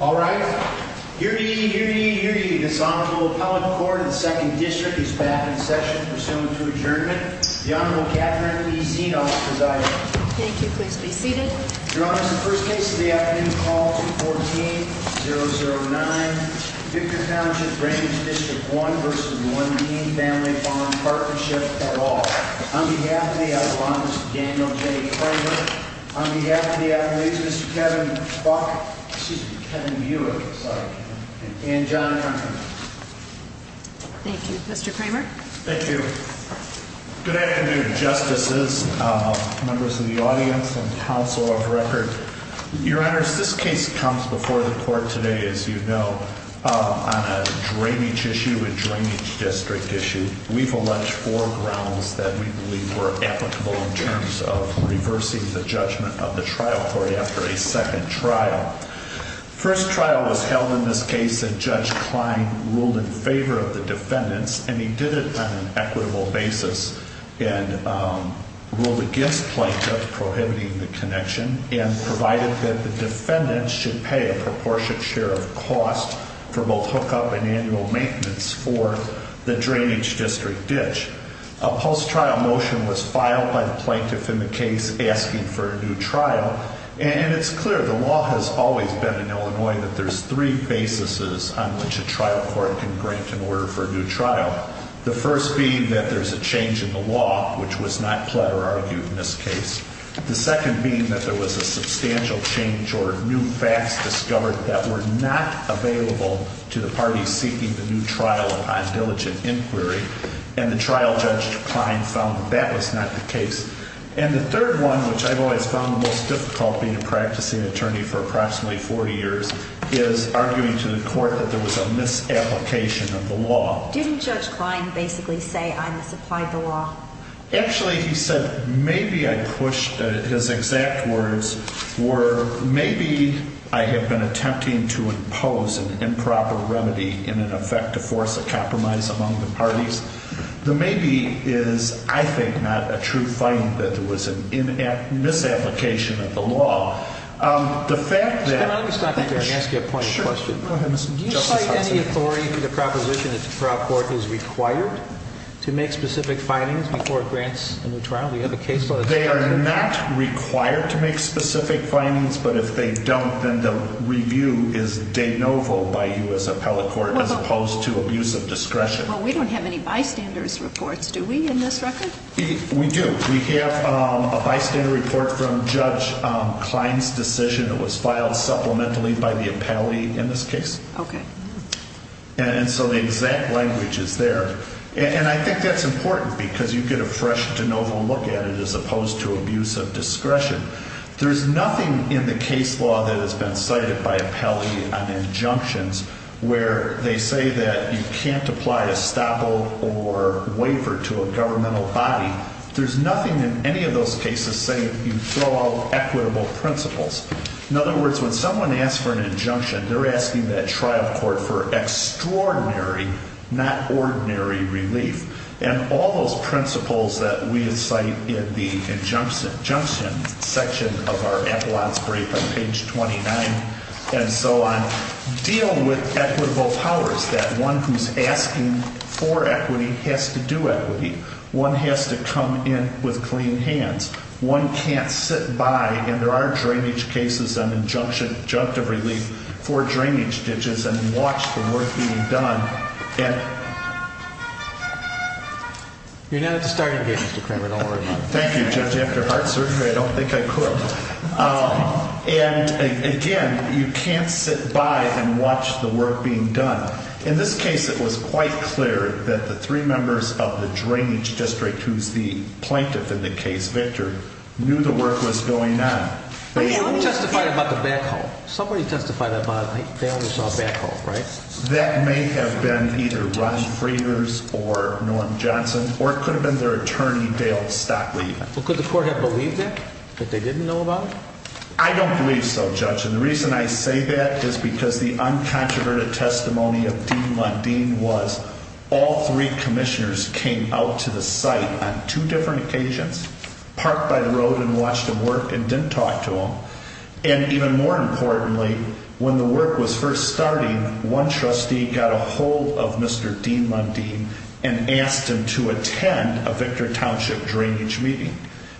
All right. Hear ye, hear ye, hear ye. This Honorable Appellate Court in the 2nd District is back in session. Pursuant to adjournment, the Honorable Catherine E. Zenos presides. Thank you. Please be seated. Your Honors, the first case of the afternoon is called 214-009. Victor Township Drainage District 1 v. Lundeen Family Farm Partnership for All. On behalf of the Outlaw, Mr. Daniel J. Kramer. On behalf of the athletes, Mr. Kevin Buck. Excuse me, Kevin Mueller. Sorry, Kevin. And John Hunter. Thank you. Mr. Kramer. Thank you. Good afternoon, Justices, members of the audience, and Council of Record. Your Honors, this case comes before the Court today, as you know, on a drainage issue, a drainage district issue. We've alleged four grounds that we believe were applicable in terms of reversing the judgment of the trial court after a second trial. First trial was held in this case that Judge Klein ruled in favor of the defendants, and he did it on an equitable basis and ruled against Plaintiff prohibiting the connection and provided that the defendants should pay a proportionate share of cost for both hookup and annual maintenance for the drainage district ditch. A post-trial motion was filed by the Plaintiff in the case asking for a new trial, and it's clear the law has always been in Illinois that there's three basis on which a trial court can grant an order for a new trial. The first being that there's a change in the law, which was not platter argued in this case. The second being that there was a substantial change or new facts discovered that were not available to the parties seeking the new trial upon diligent inquiry, and the trial Judge Klein found that that was not the case. And the third one, which I've always found the most difficult being a practicing attorney for approximately 40 years, is arguing to the Court that there was a misapplication of the law. Didn't Judge Klein basically say, I misapplied the law? Actually, he said, maybe I pushed, his exact words were, maybe I have been attempting to impose an improper remedy in an effect to force a compromise among the parties. The maybe is, I think, not a true finding that there was a misapplication of the law. The fact that... Can I just stop you there and ask you a point of question? Sure, go ahead, Mr. Justice. Do you cite any authority for the proposition that the trial court is required to make specific findings before it grants a new trial? We have a case law... They are not required to make specific findings. But if they don't, then the review is de novo by you as appellate court, as opposed to abuse of discretion. Well, we don't have any bystanders reports, do we, in this record? We do. We have a bystander report from Judge Klein's decision. It was filed supplementally by the appellate in this case. Okay. And so the exact language is there. And I think that's important because you get a fresh de novo look at it as opposed to abuse of discretion. There's nothing in the case law that has been cited by appellate on injunctions where they say that you can't apply a stop-hold or waiver to a governmental body. There's nothing in any of those cases saying you throw out equitable principles. In other words, when someone asks for an injunction, they're asking that trial court for extraordinary, not ordinary relief. And all those principles that we cite in the injunction section of our appellate's brief on page 29 and so on deal with equitable powers, that one who's asking for equity has to do equity. One has to come in with clean hands. One can't sit by, and there are drainage cases on injunctive relief for drainage ditches, and watch the work being done. You're not at the starting gate, Mr. Kramer. Don't worry about it. Thank you, Judge. After heart surgery, I don't think I could. And, again, you can't sit by and watch the work being done. In this case, it was quite clear that the three members of the drainage district, who's the plaintiff in the case, Victor, knew the work was going on. But he only testified about the backhoe. Somebody testified about it. They only saw a backhoe, right? That may have been either Ron Frieders or Norm Johnson, or it could have been their attorney, Dale Stockley. Well, could the court have believed that, that they didn't know about it? I don't believe so, Judge. And the reason I say that is because the uncontroverted testimony of Dean Mundine was all three commissioners came out to the site on two different occasions, parked by the road and watched him work, and didn't talk to him. And, even more importantly, when the work was first starting, one trustee got a hold of Mr. Dean Mundine and asked him to attend a Victor Township drainage meeting.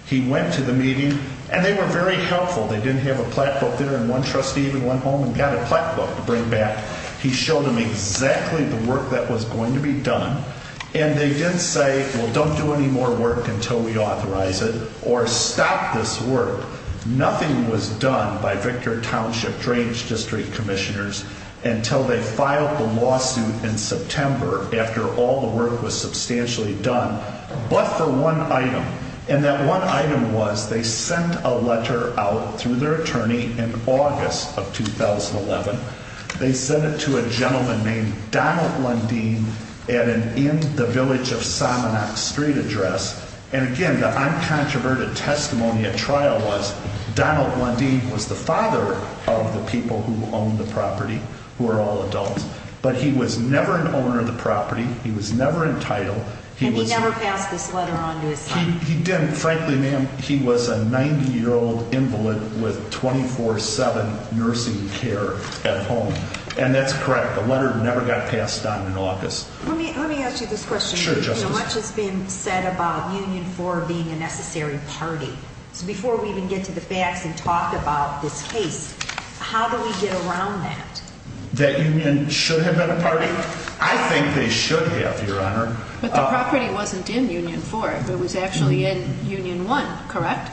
He went to the meeting, and they were very helpful. They didn't have a plaque book there, and one trustee even went home and got a plaque book to bring back. He showed them exactly the work that was going to be done, and they didn't say, well, don't do any more work until we authorize it, or stop this work. Nothing was done by Victor Township drainage district commissioners until they filed the lawsuit in September, after all the work was substantially done, but for one item. And that one item was they sent a letter out through their attorney in August of 2011. They sent it to a gentleman named Donald Mundine at an In the Village of Samanak Street address. And, again, the uncontroverted testimony at trial was Donald Mundine was the father of the people who owned the property, who are all adults. But he was never an owner of the property. He was never entitled. And he never passed this letter on to his son? He didn't. Frankly, ma'am, he was a 90-year-old invalid with 24-7 nursing care at home. And that's correct. The letter never got passed on in August. Let me ask you this question. Sure, Justice. Much has been said about Union IV being a necessary party. So before we even get to the facts and talk about this case, how do we get around that? That Union should have been a party? I think they should have, Your Honor. But the property wasn't in Union IV. It was actually in Union I, correct?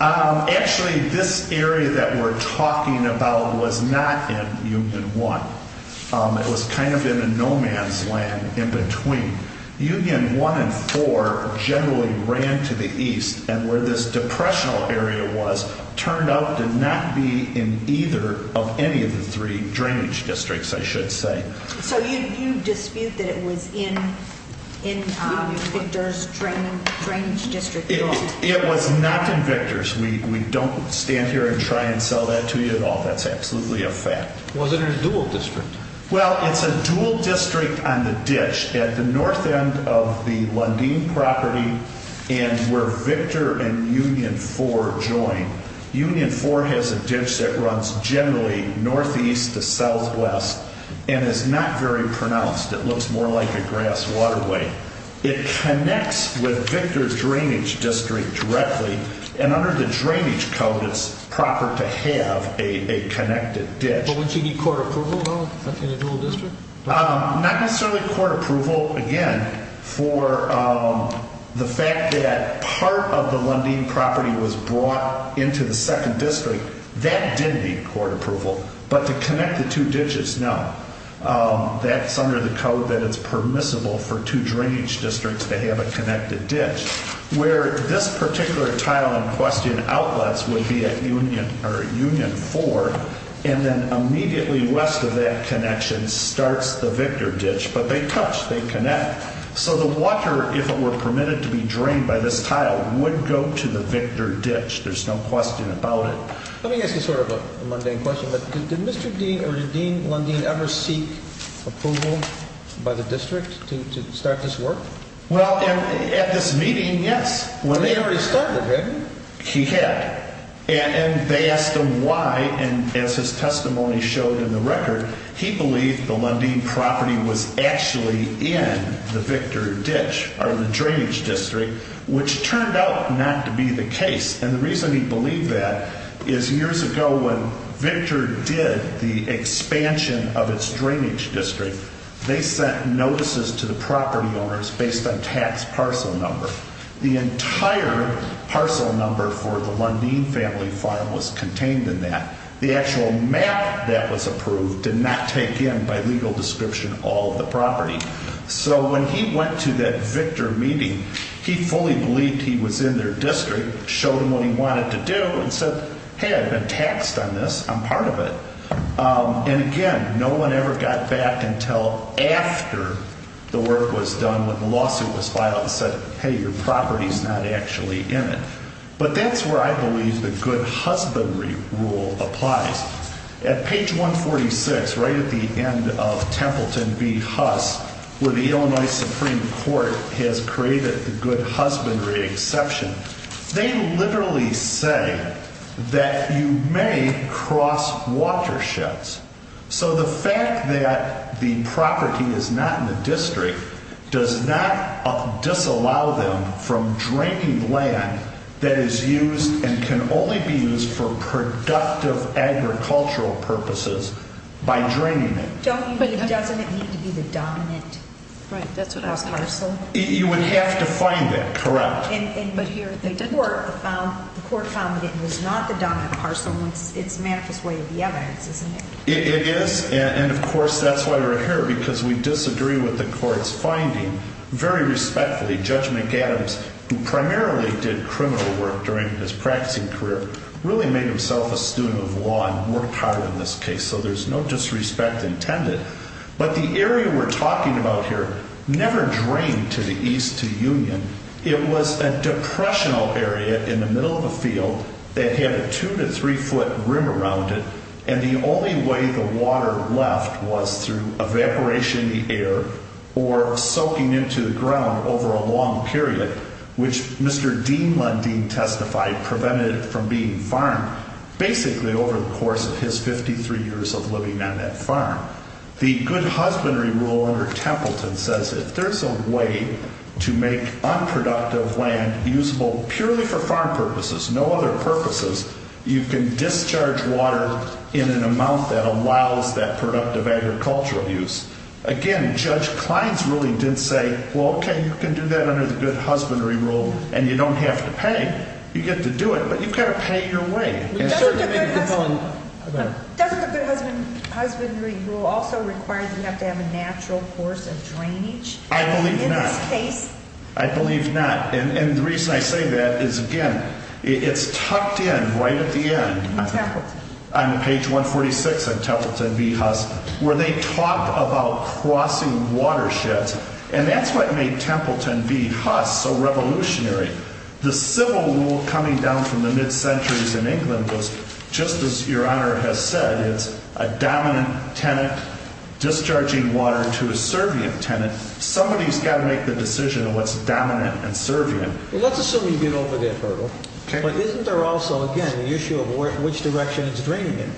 Actually, this area that we're talking about was not in Union I. It was kind of in a no-man's land in between. Union I and IV generally ran to the east. And where this depressional area was turned out to not be in either of any of the three drainage districts, I should say. So you dispute that it was in Victor's drainage district at all? It was not in Victor's. We don't stand here and try and sell that to you at all. That's absolutely a fact. Was it in a dual district? Well, it's a dual district on the ditch at the north end of the Lundeen property and where Victor and Union IV join. Union IV has a ditch that runs generally northeast to southwest and is not very pronounced. It looks more like a grass waterway. It connects with Victor's drainage district directly. And under the drainage code, it's proper to have a connected ditch. But wouldn't you need court approval, though, in a dual district? Not necessarily court approval, again, for the fact that part of the Lundeen property was brought into the second district. That did need court approval. But to connect the two ditches, no. That's under the code that it's permissible for two drainage districts to have a connected ditch. Where this particular tile in question outlets would be at Union IV and then immediately west of that connection starts the Victor ditch. But they touch. They connect. So the water, if it were permitted to be drained by this tile, would go to the Victor ditch. There's no question about it. Let me ask you sort of a mundane question. Did Mr. Dean or Dean Lundeen ever seek approval by the district to start this work? Well, at this meeting, yes. When they already started, right? He had. And they asked him why. And as his testimony showed in the record, he believed the Lundeen property was actually in the Victor ditch or the drainage district, which turned out not to be the case. And the reason he believed that is years ago when Victor did the expansion of its drainage district, they sent notices to the property owners based on tax parcel number. The entire parcel number for the Lundeen family farm was contained in that. The actual map that was approved did not take in by legal description all the property. So when he went to that Victor meeting, he fully believed he was in their district, showed them what he wanted to do, and said, hey, I've been taxed on this. I'm part of it. And again, no one ever got back until after the work was done when the lawsuit was filed and said, hey, your property is not actually in it. But that's where I believe the good husbandry rule applies. At page 146, right at the end of Templeton v. Huss, where the Illinois Supreme Court has created the good husbandry exception, they literally say that you may cross watersheds. So the fact that the property is not in the district does not disallow them from draining land that is used and can only be used for productive agricultural purposes by draining it. Doesn't it need to be the dominant parcel? You would have to find that, correct. But here, the court found it was not the dominant parcel in its manifest way of the evidence, isn't it? It is. And of course, that's why we're here, because we disagree with the court's finding. Very respectfully, Judge McGadams, who primarily did criminal work during his practicing career, really made himself a student of law and worked hard on this case. So there's no disrespect intended. But the area we're talking about here never drained to the east to Union. It was a depressional area in the middle of a field that had a two- to three-foot rim around it, and the only way the water left was through evaporation of the air or soaking into the ground over a long period, which Mr. Dean Lundeen testified prevented it from being farmed, basically over the course of his 53 years of living on that farm. The good husbandry rule under Templeton says if there's a way to make unproductive land usable purely for farm purposes, no other purposes, you can discharge water in an amount that allows that productive agricultural use. Again, Judge Klein's ruling did say, well, okay, you can do that under the good husbandry rule, and you don't have to pay. You get to do it, but you've got to pay your way. Doesn't the good husbandry rule also require that you have to have a natural course of drainage? I believe not. In this case? I believe not. And the reason I say that is, again, it's tucked in right at the end. On Templeton. On page 146 of Templeton v. Huss, where they talk about crossing watersheds. And that's what made Templeton v. Huss so revolutionary. The civil rule coming down from the mid-centuries in England was, just as Your Honor has said, it's a dominant tenant discharging water to a servient tenant. Somebody's got to make the decision of what's dominant and servient. Well, let's assume you get over that hurdle. Okay. But isn't there also, again, the issue of which direction it's draining in?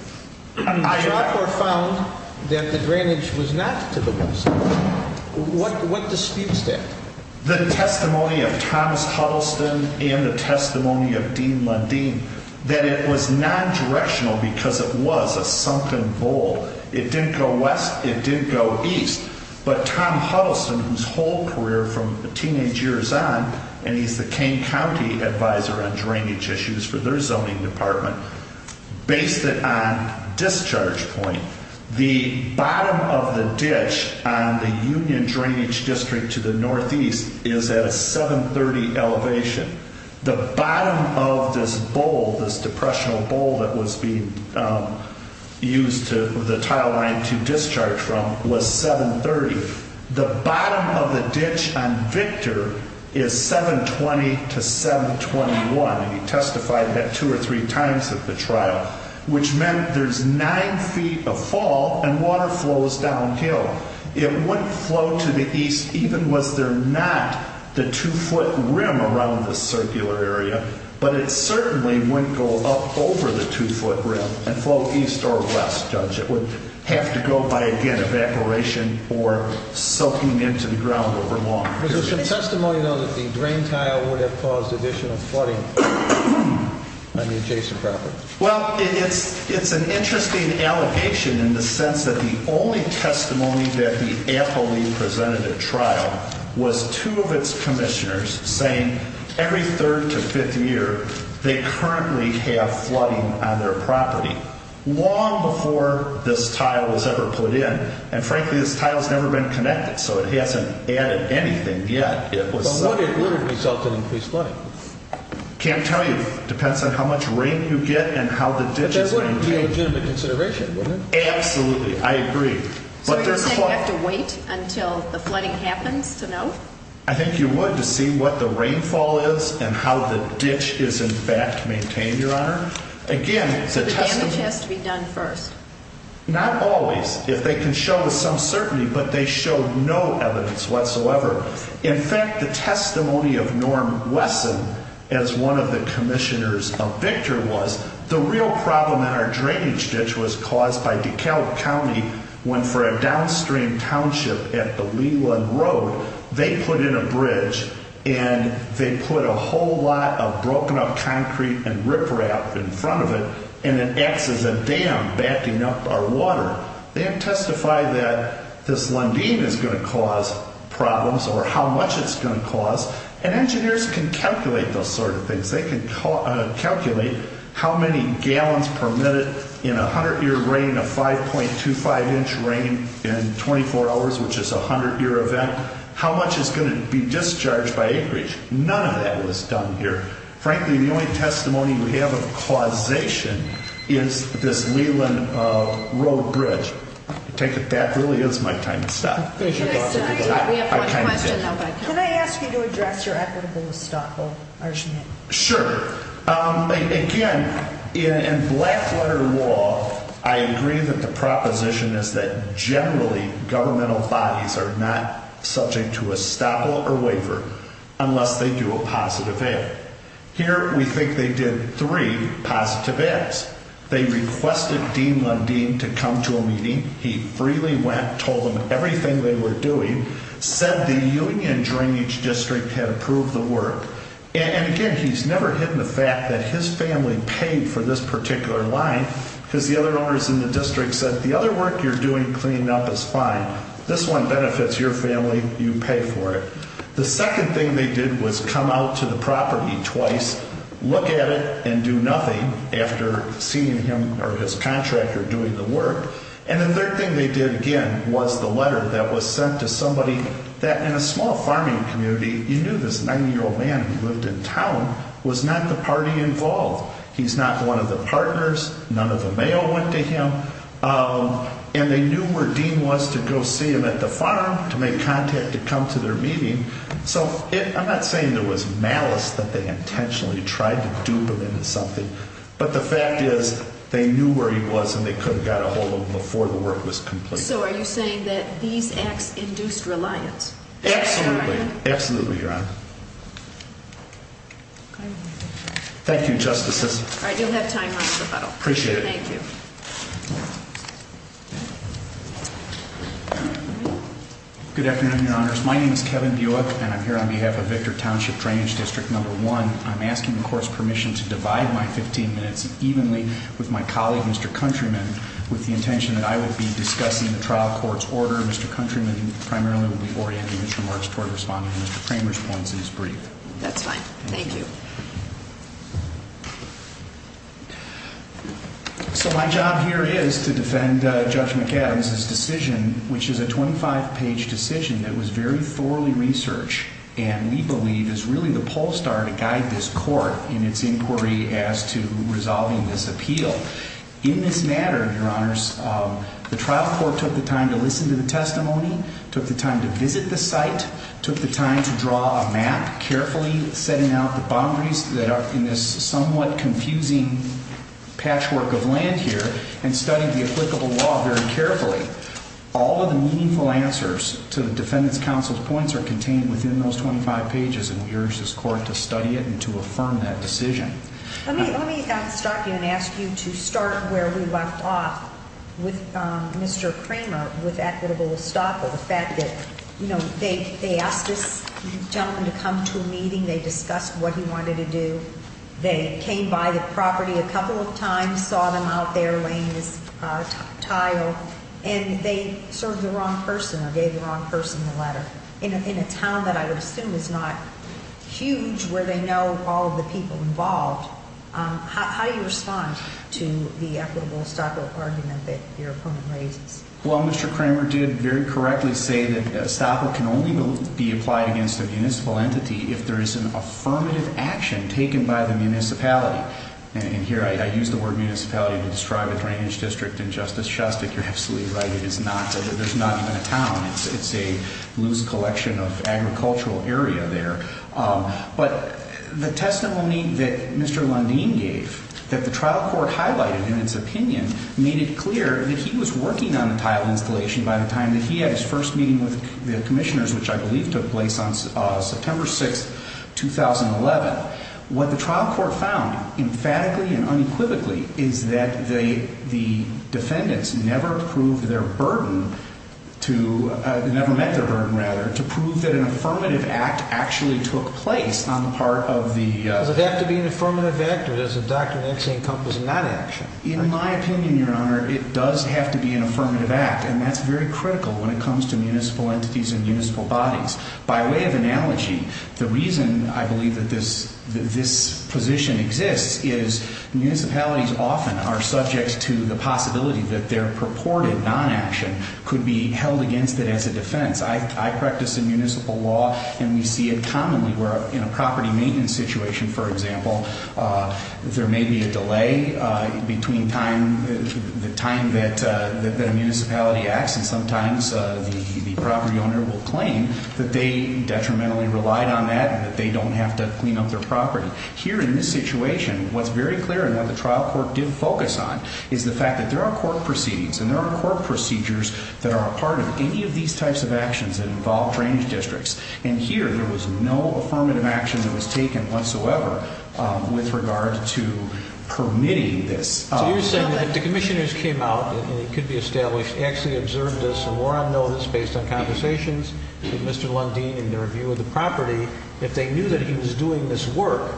I am not. Trotter found that the drainage was not to the west. What disputes that? The testimony of Thomas Huddleston and the testimony of Dean Lundeen, that it was non-directional because it was a sunken bowl. It didn't go west. It didn't go east. But Tom Huddleston, whose whole career from teenage years on, and he's the Kane County advisor on drainage issues for their zoning department, based it on Discharge Point. The bottom of the ditch on the Union Drainage District to the northeast is at a 730 elevation. The bottom of this bowl, this depressional bowl that was being used to, the tile line to discharge from, was 730. The bottom of the ditch on Victor is 720 to 721. And he testified that two or three times at the trial, which meant there's nine feet of fall and water flows downhill. It wouldn't flow to the east even was there not the two-foot rim around the circular area. But it certainly wouldn't go up over the two-foot rim and flow east or west, Judge. It would have to go by, again, evaporation or soaking into the ground over long periods. There's some testimony, though, that the drain tile would have caused additional flooding on the adjacent property. Well, it's an interesting allegation in the sense that the only testimony that the affilee presented at trial was two of its commissioners saying every third to fifth year they currently have flooding on their property long before this tile was ever put in. And frankly, this tile's never been connected, so it hasn't added anything yet. But would it result in increased flooding? Can't tell you. Depends on how much rain you get and how the ditch is maintained. But that wouldn't be a legitimate consideration, would it? Absolutely. I agree. So you're saying you have to wait until the flooding happens to know? I think you would to see what the rainfall is and how the ditch is, in fact, maintained, Your Honor. So the damage has to be done first? Not always. If they can show some certainty, but they show no evidence whatsoever. In fact, the testimony of Norm Wesson as one of the commissioners of Victor was the real problem in our drainage ditch was caused by DeKalb County went for a downstream township at the Leland Road. They put in a bridge and they put a whole lot of broken up concrete and riprap in front of it, and it acts as a dam backing up our water. They have testified that this Lundin is going to cause problems or how much it's going to cause. And engineers can calculate those sort of things. They can calculate how many gallons per minute in 100-year rain, a 5.25-inch rain in 24 hours, which is a 100-year event, how much is going to be discharged by acreage. None of that was done here. Frankly, the only testimony we have of causation is this Leland Road bridge. I take it that really is my time to stop. We have one question. Can I ask you to address your equitable estoppel argument? Sure. Again, in Blackwater law, I agree that the proposition is that generally governmental bodies are not subject to estoppel or waiver unless they do a positive act. Here, we think they did three positive acts. They requested Dean Lundin to come to a meeting. He freely went, told them everything they were doing, said the union drainage district had approved the work. And, again, he's never hidden the fact that his family paid for this particular line because the other owners in the district said the other work you're doing cleaning up is fine. This one benefits your family. You pay for it. The second thing they did was come out to the property twice, look at it, and do nothing after seeing him or his contractor doing the work. And the third thing they did, again, was the letter that was sent to somebody that, in a small farming community, you knew this 90-year-old man who lived in town was not the party involved. He's not one of the partners. None of the mail went to him. And they knew where Dean was to go see him at the farm, to make contact, to come to their meeting. So I'm not saying there was malice, that they intentionally tried to dupe him into something. But the fact is they knew where he was and they could have got a hold of him before the work was completed. So are you saying that these acts induced reliance? Absolutely. Absolutely, Your Honor. Okay. Thank you, Justices. All right, you'll have time after the final. Appreciate it. Thank you. Good afternoon, Your Honors. My name is Kevin Buick, and I'm here on behalf of Victor Township Drainage District No. 1. I'm asking the Court's permission to divide my 15 minutes evenly with my colleague, Mr. Countryman, with the intention that I would be discussing the trial court's order. Mr. Countryman primarily will be orienting his remarks toward responding to Mr. Kramer's points in his brief. That's fine. Thank you. So my job here is to defend Judge McAdams' decision, which is a 25-page decision that was very thoroughly researched and we believe is really the polestar to guide this Court in its inquiry as to resolving this appeal. In this matter, Your Honors, the trial court took the time to listen to the testimony, took the time to visit the site, took the time to draw a map carefully, setting out the boundaries that are in this somewhat confusing patchwork of land here, and studied the applicable law very carefully. All of the meaningful answers to the Defendant's Counsel's points are contained within those 25 pages, and we urge this Court to study it and to affirm that decision. Let me stop you and ask you to start where we left off with Mr. Kramer with equitable estoppel, the fact that they asked this gentleman to come to a meeting, they discussed what he wanted to do, they came by the property a couple of times, saw them out there laying this tile, and they served the wrong person or gave the wrong person the letter in a town that I would assume is not huge, where they know all of the people involved. How do you respond to the equitable estoppel argument that your opponent raises? Well, Mr. Kramer did very correctly say that estoppel can only be applied against a municipal entity if there is an affirmative action taken by the municipality. And here I use the word municipality to describe a drainage district in Justice Shustick. You're absolutely right. It is not. There's not even a town. It's a loose collection of agricultural area there. But the testimony that Mr. Lundeen gave, that the trial court highlighted in its opinion, made it clear that he was working on the tile installation by the time that he had his first meeting with the commissioners, which I believe took place on September 6, 2011. What the trial court found, emphatically and unequivocally, is that the defendants never proved their burden to, never met their burden, rather, to prove that an affirmative act actually took place on the part of the... Does it have to be an affirmative act, or does the Doctrine actually encompass a non-action? In my opinion, Your Honor, it does have to be an affirmative act, and that's very critical when it comes to municipal entities and municipal bodies. By way of analogy, the reason I believe that this position exists is municipalities often are subject to the possibility that their purported non-action could be held against it as a defense. I practice in municipal law, and we see it commonly where in a property maintenance situation, for example, there may be a delay between the time that a municipality acts, and sometimes the property owner will claim that they detrimentally relied on that and that they don't have to clean up their property. Here in this situation, what's very clear and what the trial court did focus on is the fact that there are court proceedings and there are court procedures that are a part of any of these types of actions that involve drainage districts, and here there was no affirmative action that was taken whatsoever with regard to permitting this. So you're saying that if the commissioners came out, and it could be established, actually observed this and were on notice based on conversations with Mr. Lundin and their review of the property, if they knew that he was doing this work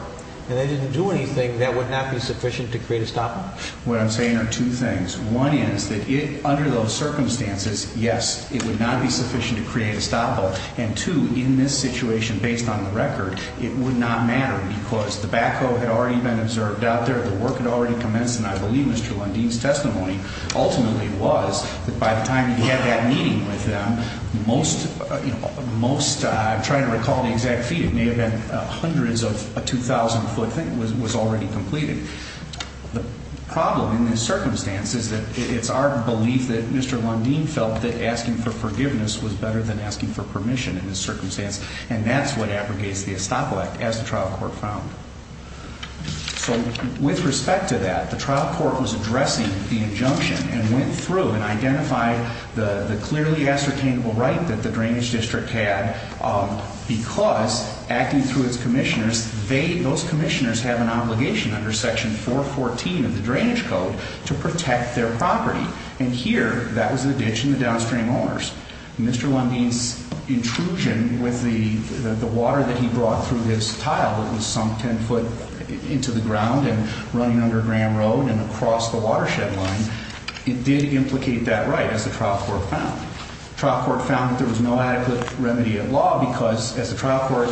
and they didn't do anything, that would not be sufficient to create a stop-all? What I'm saying are two things. One is that under those circumstances, yes, it would not be sufficient to create a stop-all, and two, in this situation, based on the record, it would not matter because the backhoe had already been observed out there, the work had already commenced, and I believe Mr. Lundin's testimony ultimately was that by the time he had that meeting with them, most, I'm trying to recall the exact feet, it may have been hundreds of 2,000-foot, was already completed. The problem in this circumstance is that it's our belief that Mr. Lundin felt that asking for forgiveness was better than asking for permission in this circumstance, and that's what abrogates the estoppel act, as the trial court found. So with respect to that, the trial court was addressing the injunction and went through and identified the clearly ascertainable right that the drainage district had because acting through its commissioners, those commissioners have an obligation under Section 414 of the Drainage Code to protect their property, and here, that was the ditch and the downstream owners. Mr. Lundin's intrusion with the water that he brought through his tile that was sunk 10-foot into the ground and running under Graham Road and across the watershed line, it did implicate that right, as the trial court found. The trial court found that there was no adequate remedy at law because, as the trial court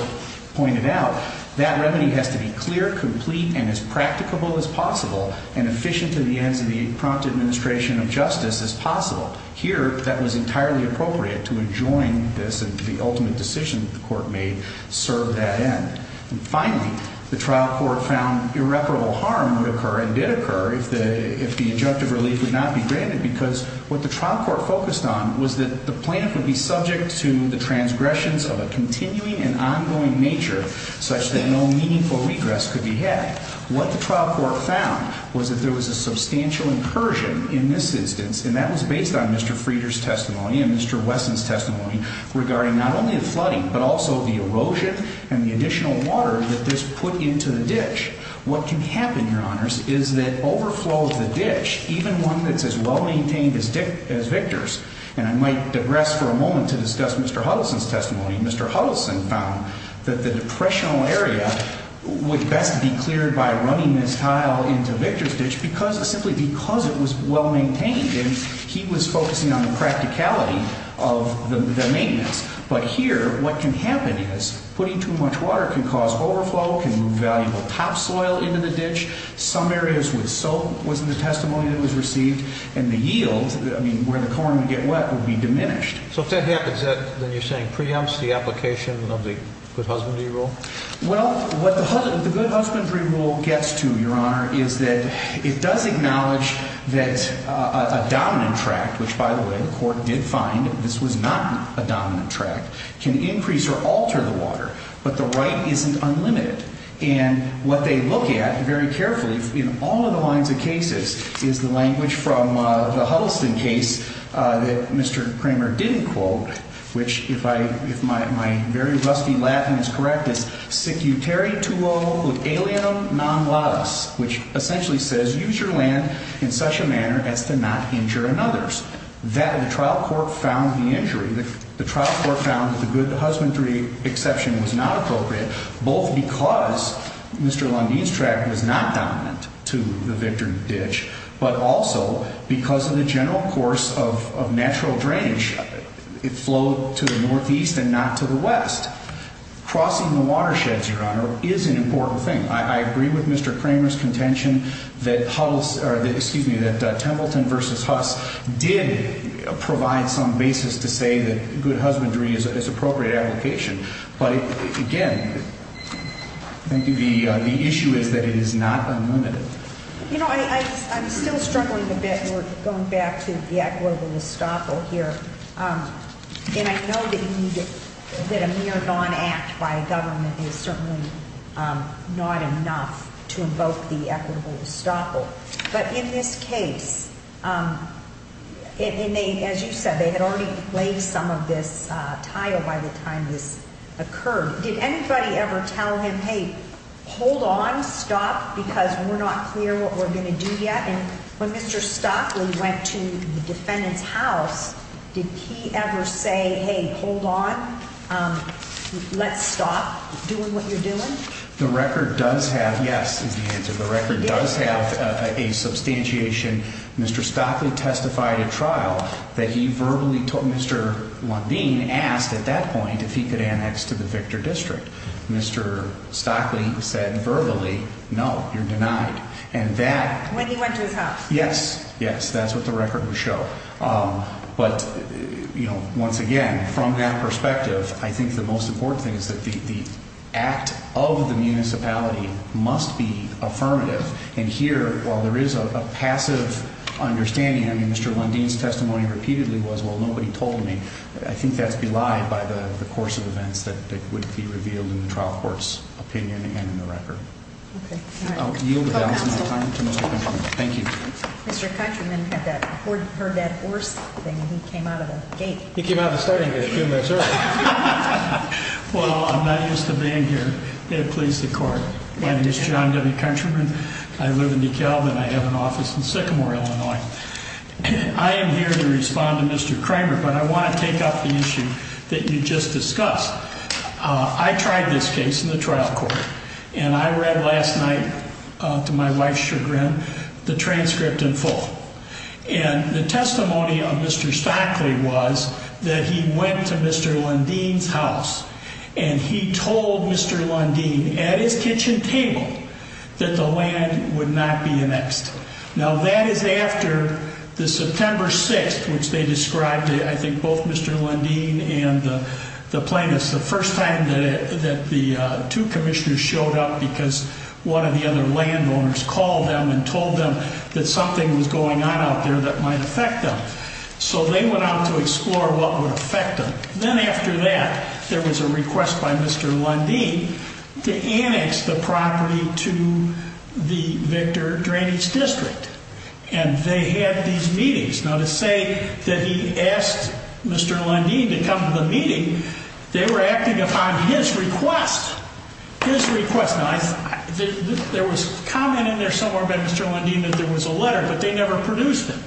pointed out, that remedy has to be clear, complete, and as practicable as possible and efficient to the ends of the prompt administration of justice as possible. Here, that was entirely appropriate to adjoin this and the ultimate decision that the court made served that end. And finally, the trial court found irreparable harm would occur and did occur if the injunctive relief would not be granted because what the trial court focused on was that the plaintiff would be subject to the transgressions of a continuing and ongoing nature such that no meaningful regress could be had. What the trial court found was that there was a substantial incursion in this instance, and that was based on Mr. Frieder's testimony and Mr. Wesson's testimony regarding not only the flooding but also the erosion and the additional water that this put into the ditch. What can happen, Your Honors, is that overflow of the ditch, even one that's as well-maintained as Victor's, and I might digress for a moment to discuss Mr. Huddleston's testimony. Mr. Huddleston found that the depressional area would best be cleared by running this tile into Victor's ditch simply because it was well-maintained, and he was focusing on the practicality of the maintenance. But here, what can happen is putting too much water can cause overflow, can move valuable topsoil into the ditch. Some areas with soap was in the testimony that was received, and the yield, I mean where the corn would get wet, would be diminished. So if that happens, then you're saying preempts the application of the good husbandry rule? Well, what the good husbandry rule gets to, Your Honor, is that it does acknowledge that a dominant tract, which, by the way, the court did find this was not a dominant tract, can increase or alter the water, but the right isn't unlimited. And what they look at very carefully in all of the lines of cases is the language from the Huddleston case that Mr. Kramer didn't quote, which, if my very rusty Latin is correct, is secutere tuo alienum non laus, which essentially says use your land in such a manner as to not injure another's. That, and the trial court found the injury. The trial court found that the good husbandry exception was not appropriate, both because Mr. Lundeen's tract was not dominant to the Victor ditch, but also because of the general course of natural drainage. It flowed to the northeast and not to the west. Crossing the watersheds, Your Honor, is an important thing. I agree with Mr. Kramer's contention that Huddleston, or excuse me, that Templeton v. Huss did provide some basis to say that good husbandry is appropriate application. But, again, thank you, the issue is that it is not unlimited. You know, I'm still struggling a bit. We're going back to the act of global estoppel here. And I know that a mere non-act by a government is certainly not enough to invoke the equitable estoppel. But in this case, as you said, they had already laid some of this tile by the time this occurred. Did anybody ever tell him, hey, hold on, stop, because we're not clear what we're going to do yet? When Mr. Stockley went to the defendant's house, did he ever say, hey, hold on, let's stop doing what you're doing? The record does have, yes, is the answer. The record does have a substantiation. Mr. Stockley testified at trial that he verbally told Mr. Lundin asked at that point if he could annex to the Victor district. Mr. Stockley said verbally, no, you're denied. When he went to his house? Yes, yes, that's what the record would show. But, you know, once again, from that perspective, I think the most important thing is that the act of the municipality must be affirmative. And here, while there is a passive understanding, I mean, Mr. Lundin's testimony repeatedly was, well, nobody told me. I think that's belied by the course of events that would be revealed in the trial court's opinion and in the record. I'll yield the balance of my time to Mr. Countryman. Thank you. Mr. Countryman heard that horse thing and he came out of the gate. He came out of the starting gate a few minutes earlier. Well, I'm not used to being here. May it please the Court. My name is John W. Countryman. I live in DeKalb and I have an office in Sycamore, Illinois. I am here to respond to Mr. Kramer, but I want to take up the issue that you just discussed. I tried this case in the trial court, and I read last night to my wife, Sher Grimm, the transcript in full. And the testimony of Mr. Stockley was that he went to Mr. Lundin's house and he told Mr. Lundin, at his kitchen table, that the land would not be annexed. Now, that is after the September 6th, which they described, I think, both Mr. Lundin and the plaintiffs, the first time that the two commissioners showed up because one of the other landowners called them and told them that something was going on out there that might affect them. So they went out to explore what would affect them. Then after that, there was a request by Mr. Lundin to annex the property to the Victor Drainage District. And they had these meetings. Now, to say that he asked Mr. Lundin to come to the meeting, they were acting upon his request. His request. Now, there was a comment in there somewhere by Mr. Lundin that there was a letter, but they never produced it,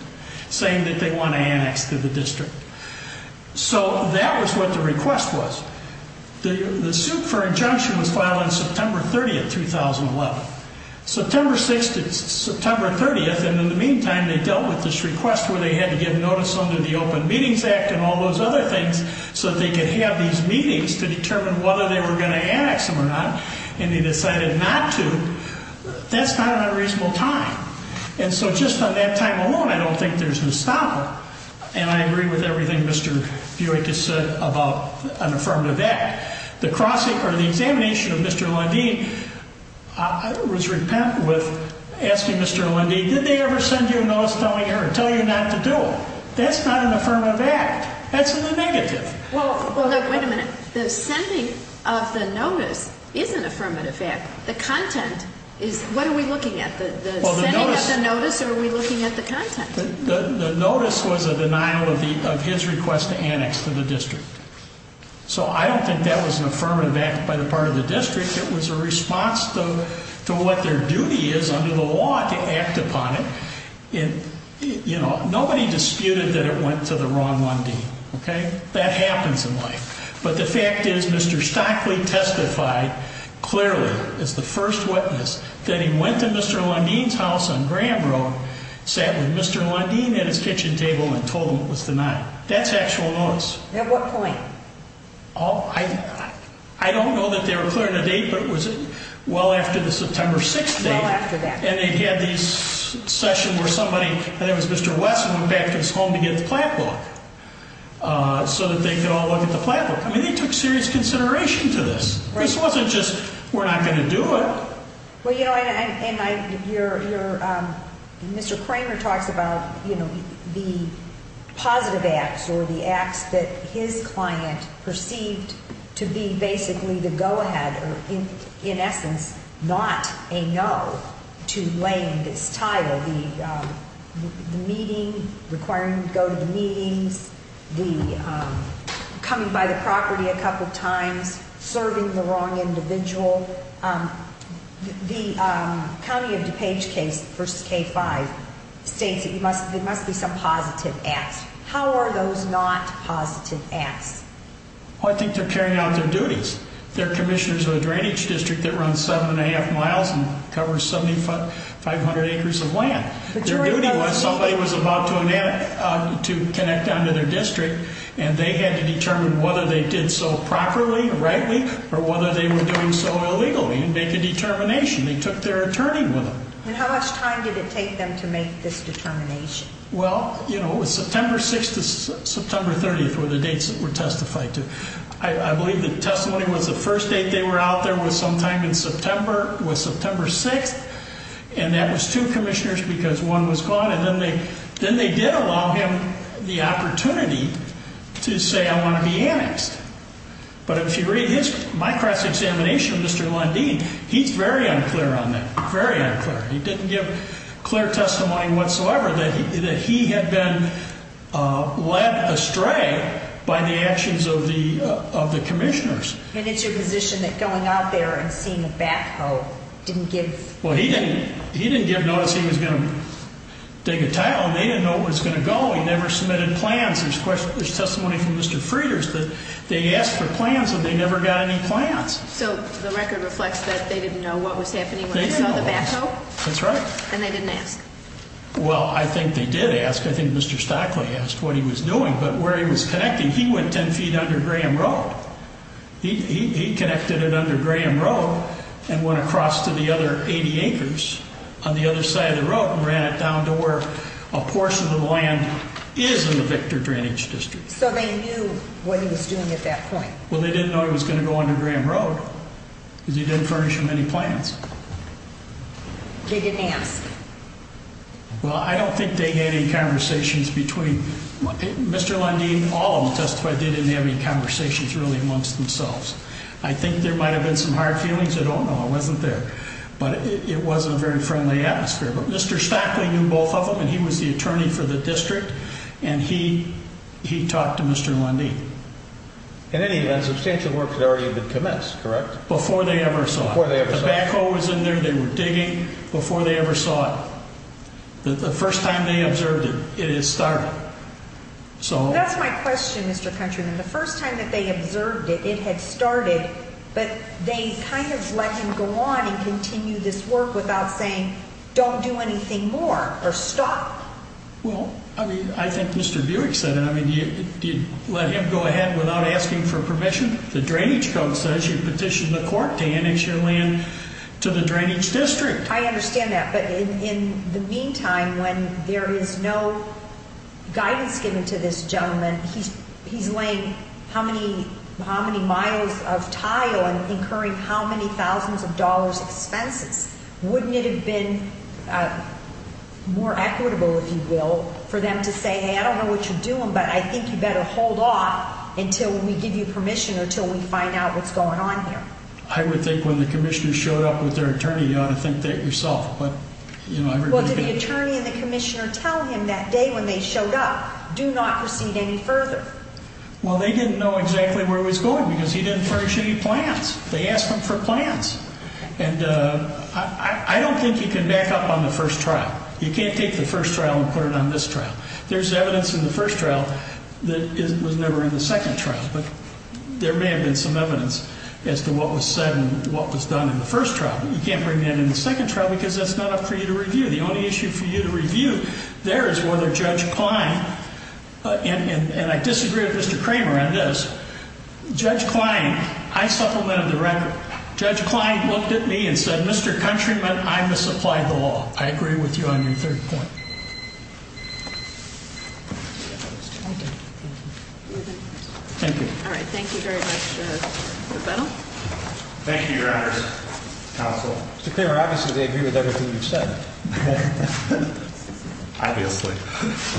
saying that they want to annex to the district. So that was what the request was. The suit for injunction was filed on September 30th, 2011. September 6th to September 30th, and in the meantime, they dealt with this request where they had to give notice under the Open Meetings Act and all those other things so that they could have these meetings to determine whether they were going to annex them or not, and they decided not to. That's not an unreasonable time. And so just on that time alone, I don't think there's a stopper. And I agree with everything Mr. Buick has said about an affirmative act. The cross-examination of Mr. Lundin, I was repentant with asking Mr. Lundin, did they ever send you a notice telling you not to do it? That's not an affirmative act. That's in the negative. Well, look, wait a minute. The sending of the notice is an affirmative act. The content is, what are we looking at? The sending of the notice or are we looking at the content? The notice was a denial of his request to annex to the district. So I don't think that was an affirmative act by the part of the district. It was a response to what their duty is under the law to act upon it. And, you know, nobody disputed that it went to the wrong Lundin. Okay? That happens in life. But the fact is Mr. Stockley testified clearly as the first witness that he went to Mr. Lundin's house on Graham Road, sat with Mr. Lundin at his kitchen table and told him it was denied. That's actual notice. At what point? I don't know that they were clear on the date, but was it well after the September 6th date? Well after that. And they had this session where somebody, I think it was Mr. Wesson, came back to his home to get the plan book so that they could all look at the plan book. I mean, they took serious consideration to this. This wasn't just we're not going to do it. Well, you know, Mr. Kramer talks about, you know, the positive acts or the acts that his client perceived to be basically the go-ahead or in essence not a no to laying this tile, the meeting, requiring to go to the meetings, the coming by the property a couple times, serving the wrong individual. The County of DuPage case, the first K-5, states there must be some positive acts. How are those not positive acts? Well, I think they're carrying out their duties. They're commissioners of a drainage district that runs seven and a half miles and covers 7,500 acres of land. Their duty was somebody was about to connect on to their district, and they had to determine whether they did so properly, rightly, or whether they were doing so illegally and make a determination. They took their attorney with them. And how much time did it take them to make this determination? Well, you know, September 6th to September 30th were the dates that were testified to. I believe the testimony was the first date they were out there was sometime in September, was September 6th, and that was two commissioners because one was gone. And then they did allow him the opportunity to say, I want to be annexed. But if you read my cross-examination of Mr. Lundeen, he's very unclear on that, very unclear. He didn't give clear testimony whatsoever that he had been led astray by the actions of the commissioners. And it's your position that going out there and seeing a backhoe didn't give? Well, he didn't give notice he was going to dig a tile, and they didn't know where it was going to go. He never submitted plans. There's testimony from Mr. Frieders that they asked for plans, and they never got any plans. So the record reflects that they didn't know what was happening when they saw the backhoe? That's right. And they didn't ask? Well, I think they did ask. I think Mr. Stockley asked what he was doing. But where he was connecting, he went 10 feet under Graham Road. He connected it under Graham Road and went across to the other 80 acres on the other side of the road and ran it down to where a portion of the land is in the Victor Drainage District. So they knew what he was doing at that point? Well, they didn't know he was going to go under Graham Road because he didn't furnish him any plans. They didn't ask? Well, I don't think they had any conversations between Mr. Lundin. All of them testified they didn't have any conversations really amongst themselves. I think there might have been some hard feelings. I don't know. I wasn't there. But it was a very friendly atmosphere. But Mr. Stockley knew both of them, and he was the attorney for the district, and he talked to Mr. Lundin. In any event, substantial work had already been commenced, correct? Before they ever saw it. Before they ever saw it. Tobacco was in there. They were digging. Before they ever saw it. The first time they observed it, it had started. That's my question, Mr. Countryman. The first time that they observed it, it had started, but they kind of let him go on and continue this work without saying, don't do anything more or stop. Well, I think Mr. Buick said it. Do you let him go ahead without asking for permission? The drainage code says you petition the court to annex your land to the drainage district. I understand that, but in the meantime, when there is no guidance given to this gentleman, he's laying how many miles of tile and incurring how many thousands of dollars expenses. Wouldn't it have been more equitable, if you will, for them to say, hey, I don't know what you're doing, but I think you better hold off until we give you permission or until we find out what's going on here. I would think when the commissioner showed up with their attorney, you ought to think that yourself. Well, did the attorney and the commissioner tell him that day when they showed up, do not proceed any further? Well, they didn't know exactly where he was going because he didn't furnish any plans. They asked him for plans. And I don't think you can back up on the first trial. You can't take the first trial and put it on this trial. There's evidence in the first trial that was never in the second trial, but there may have been some evidence as to what was said and what was done in the first trial. You can't bring that in the second trial because that's not up for you to review. The only issue for you to review there is whether Judge Klein, and I disagree with Mr. Kramer on this, Judge Klein, I supplemented the record. Judge Klein looked at me and said, Mr. Countryman, I misapplied the law. I agree with you on your third point. Thank you. All right. Thank you very much. Thank you, Your Honor. Mr. Kramer, obviously they agree with everything you've said. Obviously.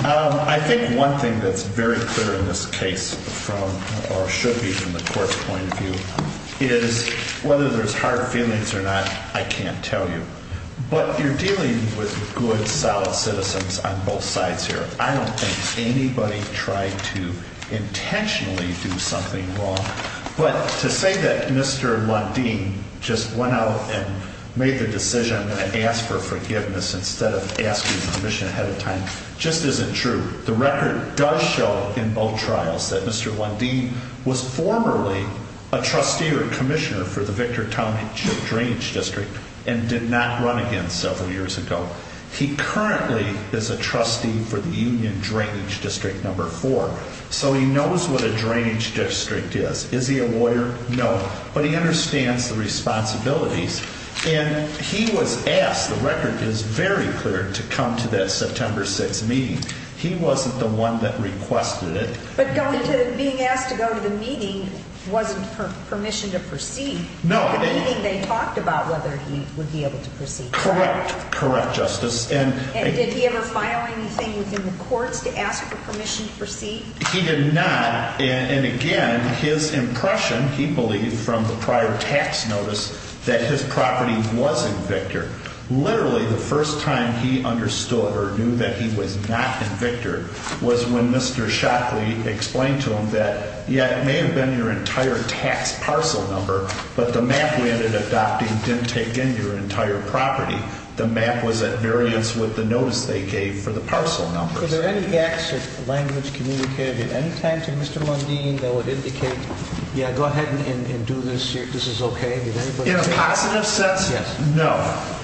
I think one thing that's very clear in this case from, or should be from the court's point of view, is whether there's hard feelings or not, I can't tell you. But you're dealing with good, solid citizens on both sides here. I don't think anybody tried to intentionally do something wrong. But to say that Mr. Lundin just went out and made the decision and asked for forgiveness instead of asking permission ahead of time just isn't true. The record does show in both trials that Mr. Lundin was formerly a trustee or commissioner for the Victortown Drainage District and did not run again several years ago. He currently is a trustee for the Union Drainage District No. 4, so he knows what a drainage district is. Is he a lawyer? No. But he understands the responsibilities. And he was asked, the record is very clear, to come to that September 6th meeting. He wasn't the one that requested it. But being asked to go to the meeting wasn't permission to proceed. No. The meeting they talked about whether he would be able to proceed. Correct. Correct, Justice. And did he ever file anything within the courts to ask for permission to proceed? He did not. And, again, his impression, he believed from the prior tax notice, that his property was in Victor. Literally the first time he understood or knew that he was not in Victor was when Mr. Shockley explained to him that, yeah, it may have been your entire tax parcel number, but the map we ended up adopting didn't take in your entire property. The map was at variance with the notice they gave for the parcel numbers. Were there any gaps of language communicated at any time to Mr. Lundeen that would indicate, yeah, go ahead and do this, this is okay? In a positive sense, no.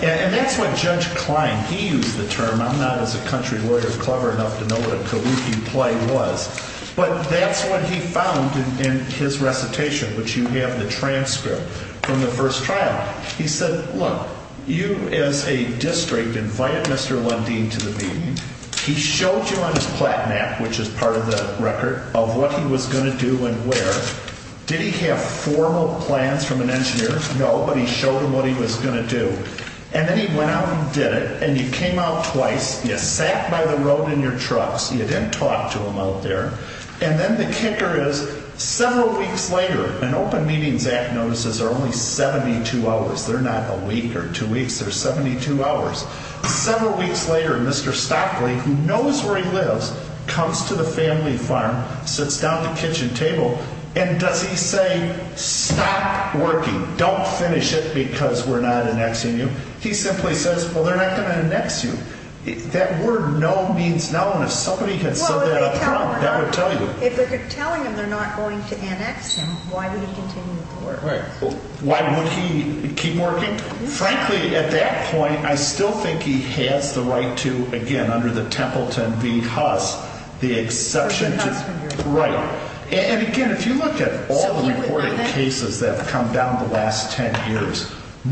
And that's what Judge Klein, he used the term, I'm not as a country lawyer clever enough to know what a colloquial play was, but that's what he found in his recitation, which you have the transcript from the first trial. He said, look, you as a district invited Mr. Lundeen to the meeting. He showed you on his platenet, which is part of the record, of what he was going to do and where. Did he have formal plans from an engineer? No. But he showed him what he was going to do. And then he went out and did it. And you came out twice. You sat by the road in your trucks. You didn't talk to him out there. And then the kicker is several weeks later, an open meetings act notices are only 72 hours. They're not a week or two weeks. They're 72 hours. Several weeks later, Mr. Stockley, who knows where he lives, comes to the family farm, sits down at the kitchen table, and does he say, stop working. Don't finish it because we're not annexing you. He simply says, well, they're not going to annex you. That word no means no. And if somebody had said that up front, that would tell you. If they're telling him they're not going to annex him, why would he continue to work? Why would he keep working? Frankly, at that point, I still think he has the right to, again, under the Templeton v. Huss, the exception to. Right. And again, if you look at all the reported cases that have come down the last ten years,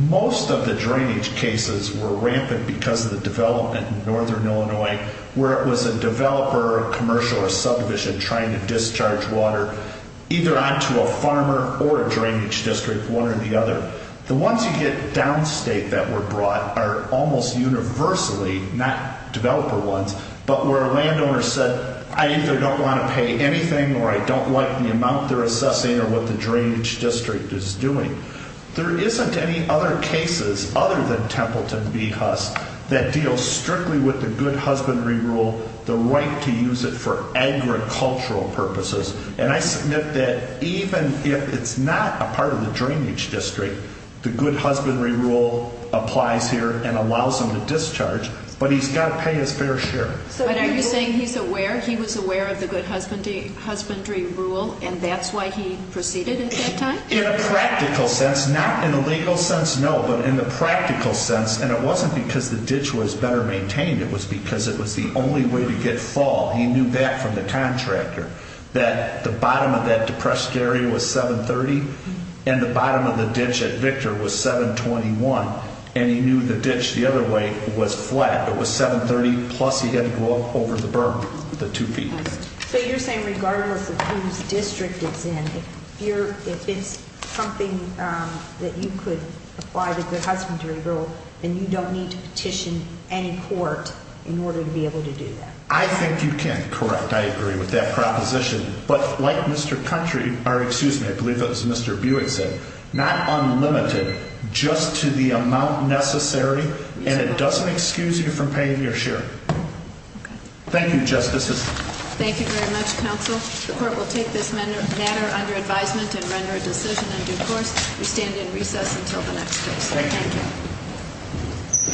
most of the drainage cases were rampant because of the development in northern Illinois, where it was a developer or a commercial or a subdivision trying to discharge water either onto a farmer or a drainage district, one or the other. The ones you get downstate that were brought are almost universally not developer ones, but where a landowner said, I either don't want to pay anything or I don't like the amount they're assessing or what the drainage district is doing. There isn't any other cases other than Templeton v. Huss that deal strictly with the good husbandry rule, the right to use it for agricultural purposes. And I submit that even if it's not a part of the drainage district, the good husbandry rule applies here and allows him to discharge, but he's got to pay his fair share. But are you saying he's aware, he was aware of the good husbandry rule and that's why he proceeded at that time? In a practical sense, not in a legal sense, no, but in the practical sense, and it wasn't because the ditch was better maintained, it was because it was the only way to get fall. He knew that from the contractor, that the bottom of that depressed area was 730 and the bottom of the ditch at Victor was 721, and he knew the ditch the other way was flat. It was 730 plus he had to go up over the berm, the two feet. So you're saying regardless of whose district it's in, if it's something that you could apply to the good husbandry rule, then you don't need to petition any court in order to be able to do that? I think you can, correct, I agree with that proposition. But like Mr. Country, or excuse me, I believe that was Mr. Buick said, not unlimited, just to the amount necessary and it doesn't excuse you from paying your share. Thank you, Justices. Thank you very much, Counsel. The court will take this matter under advisement and render a decision in due course. We stand in recess until the next case. Thank you.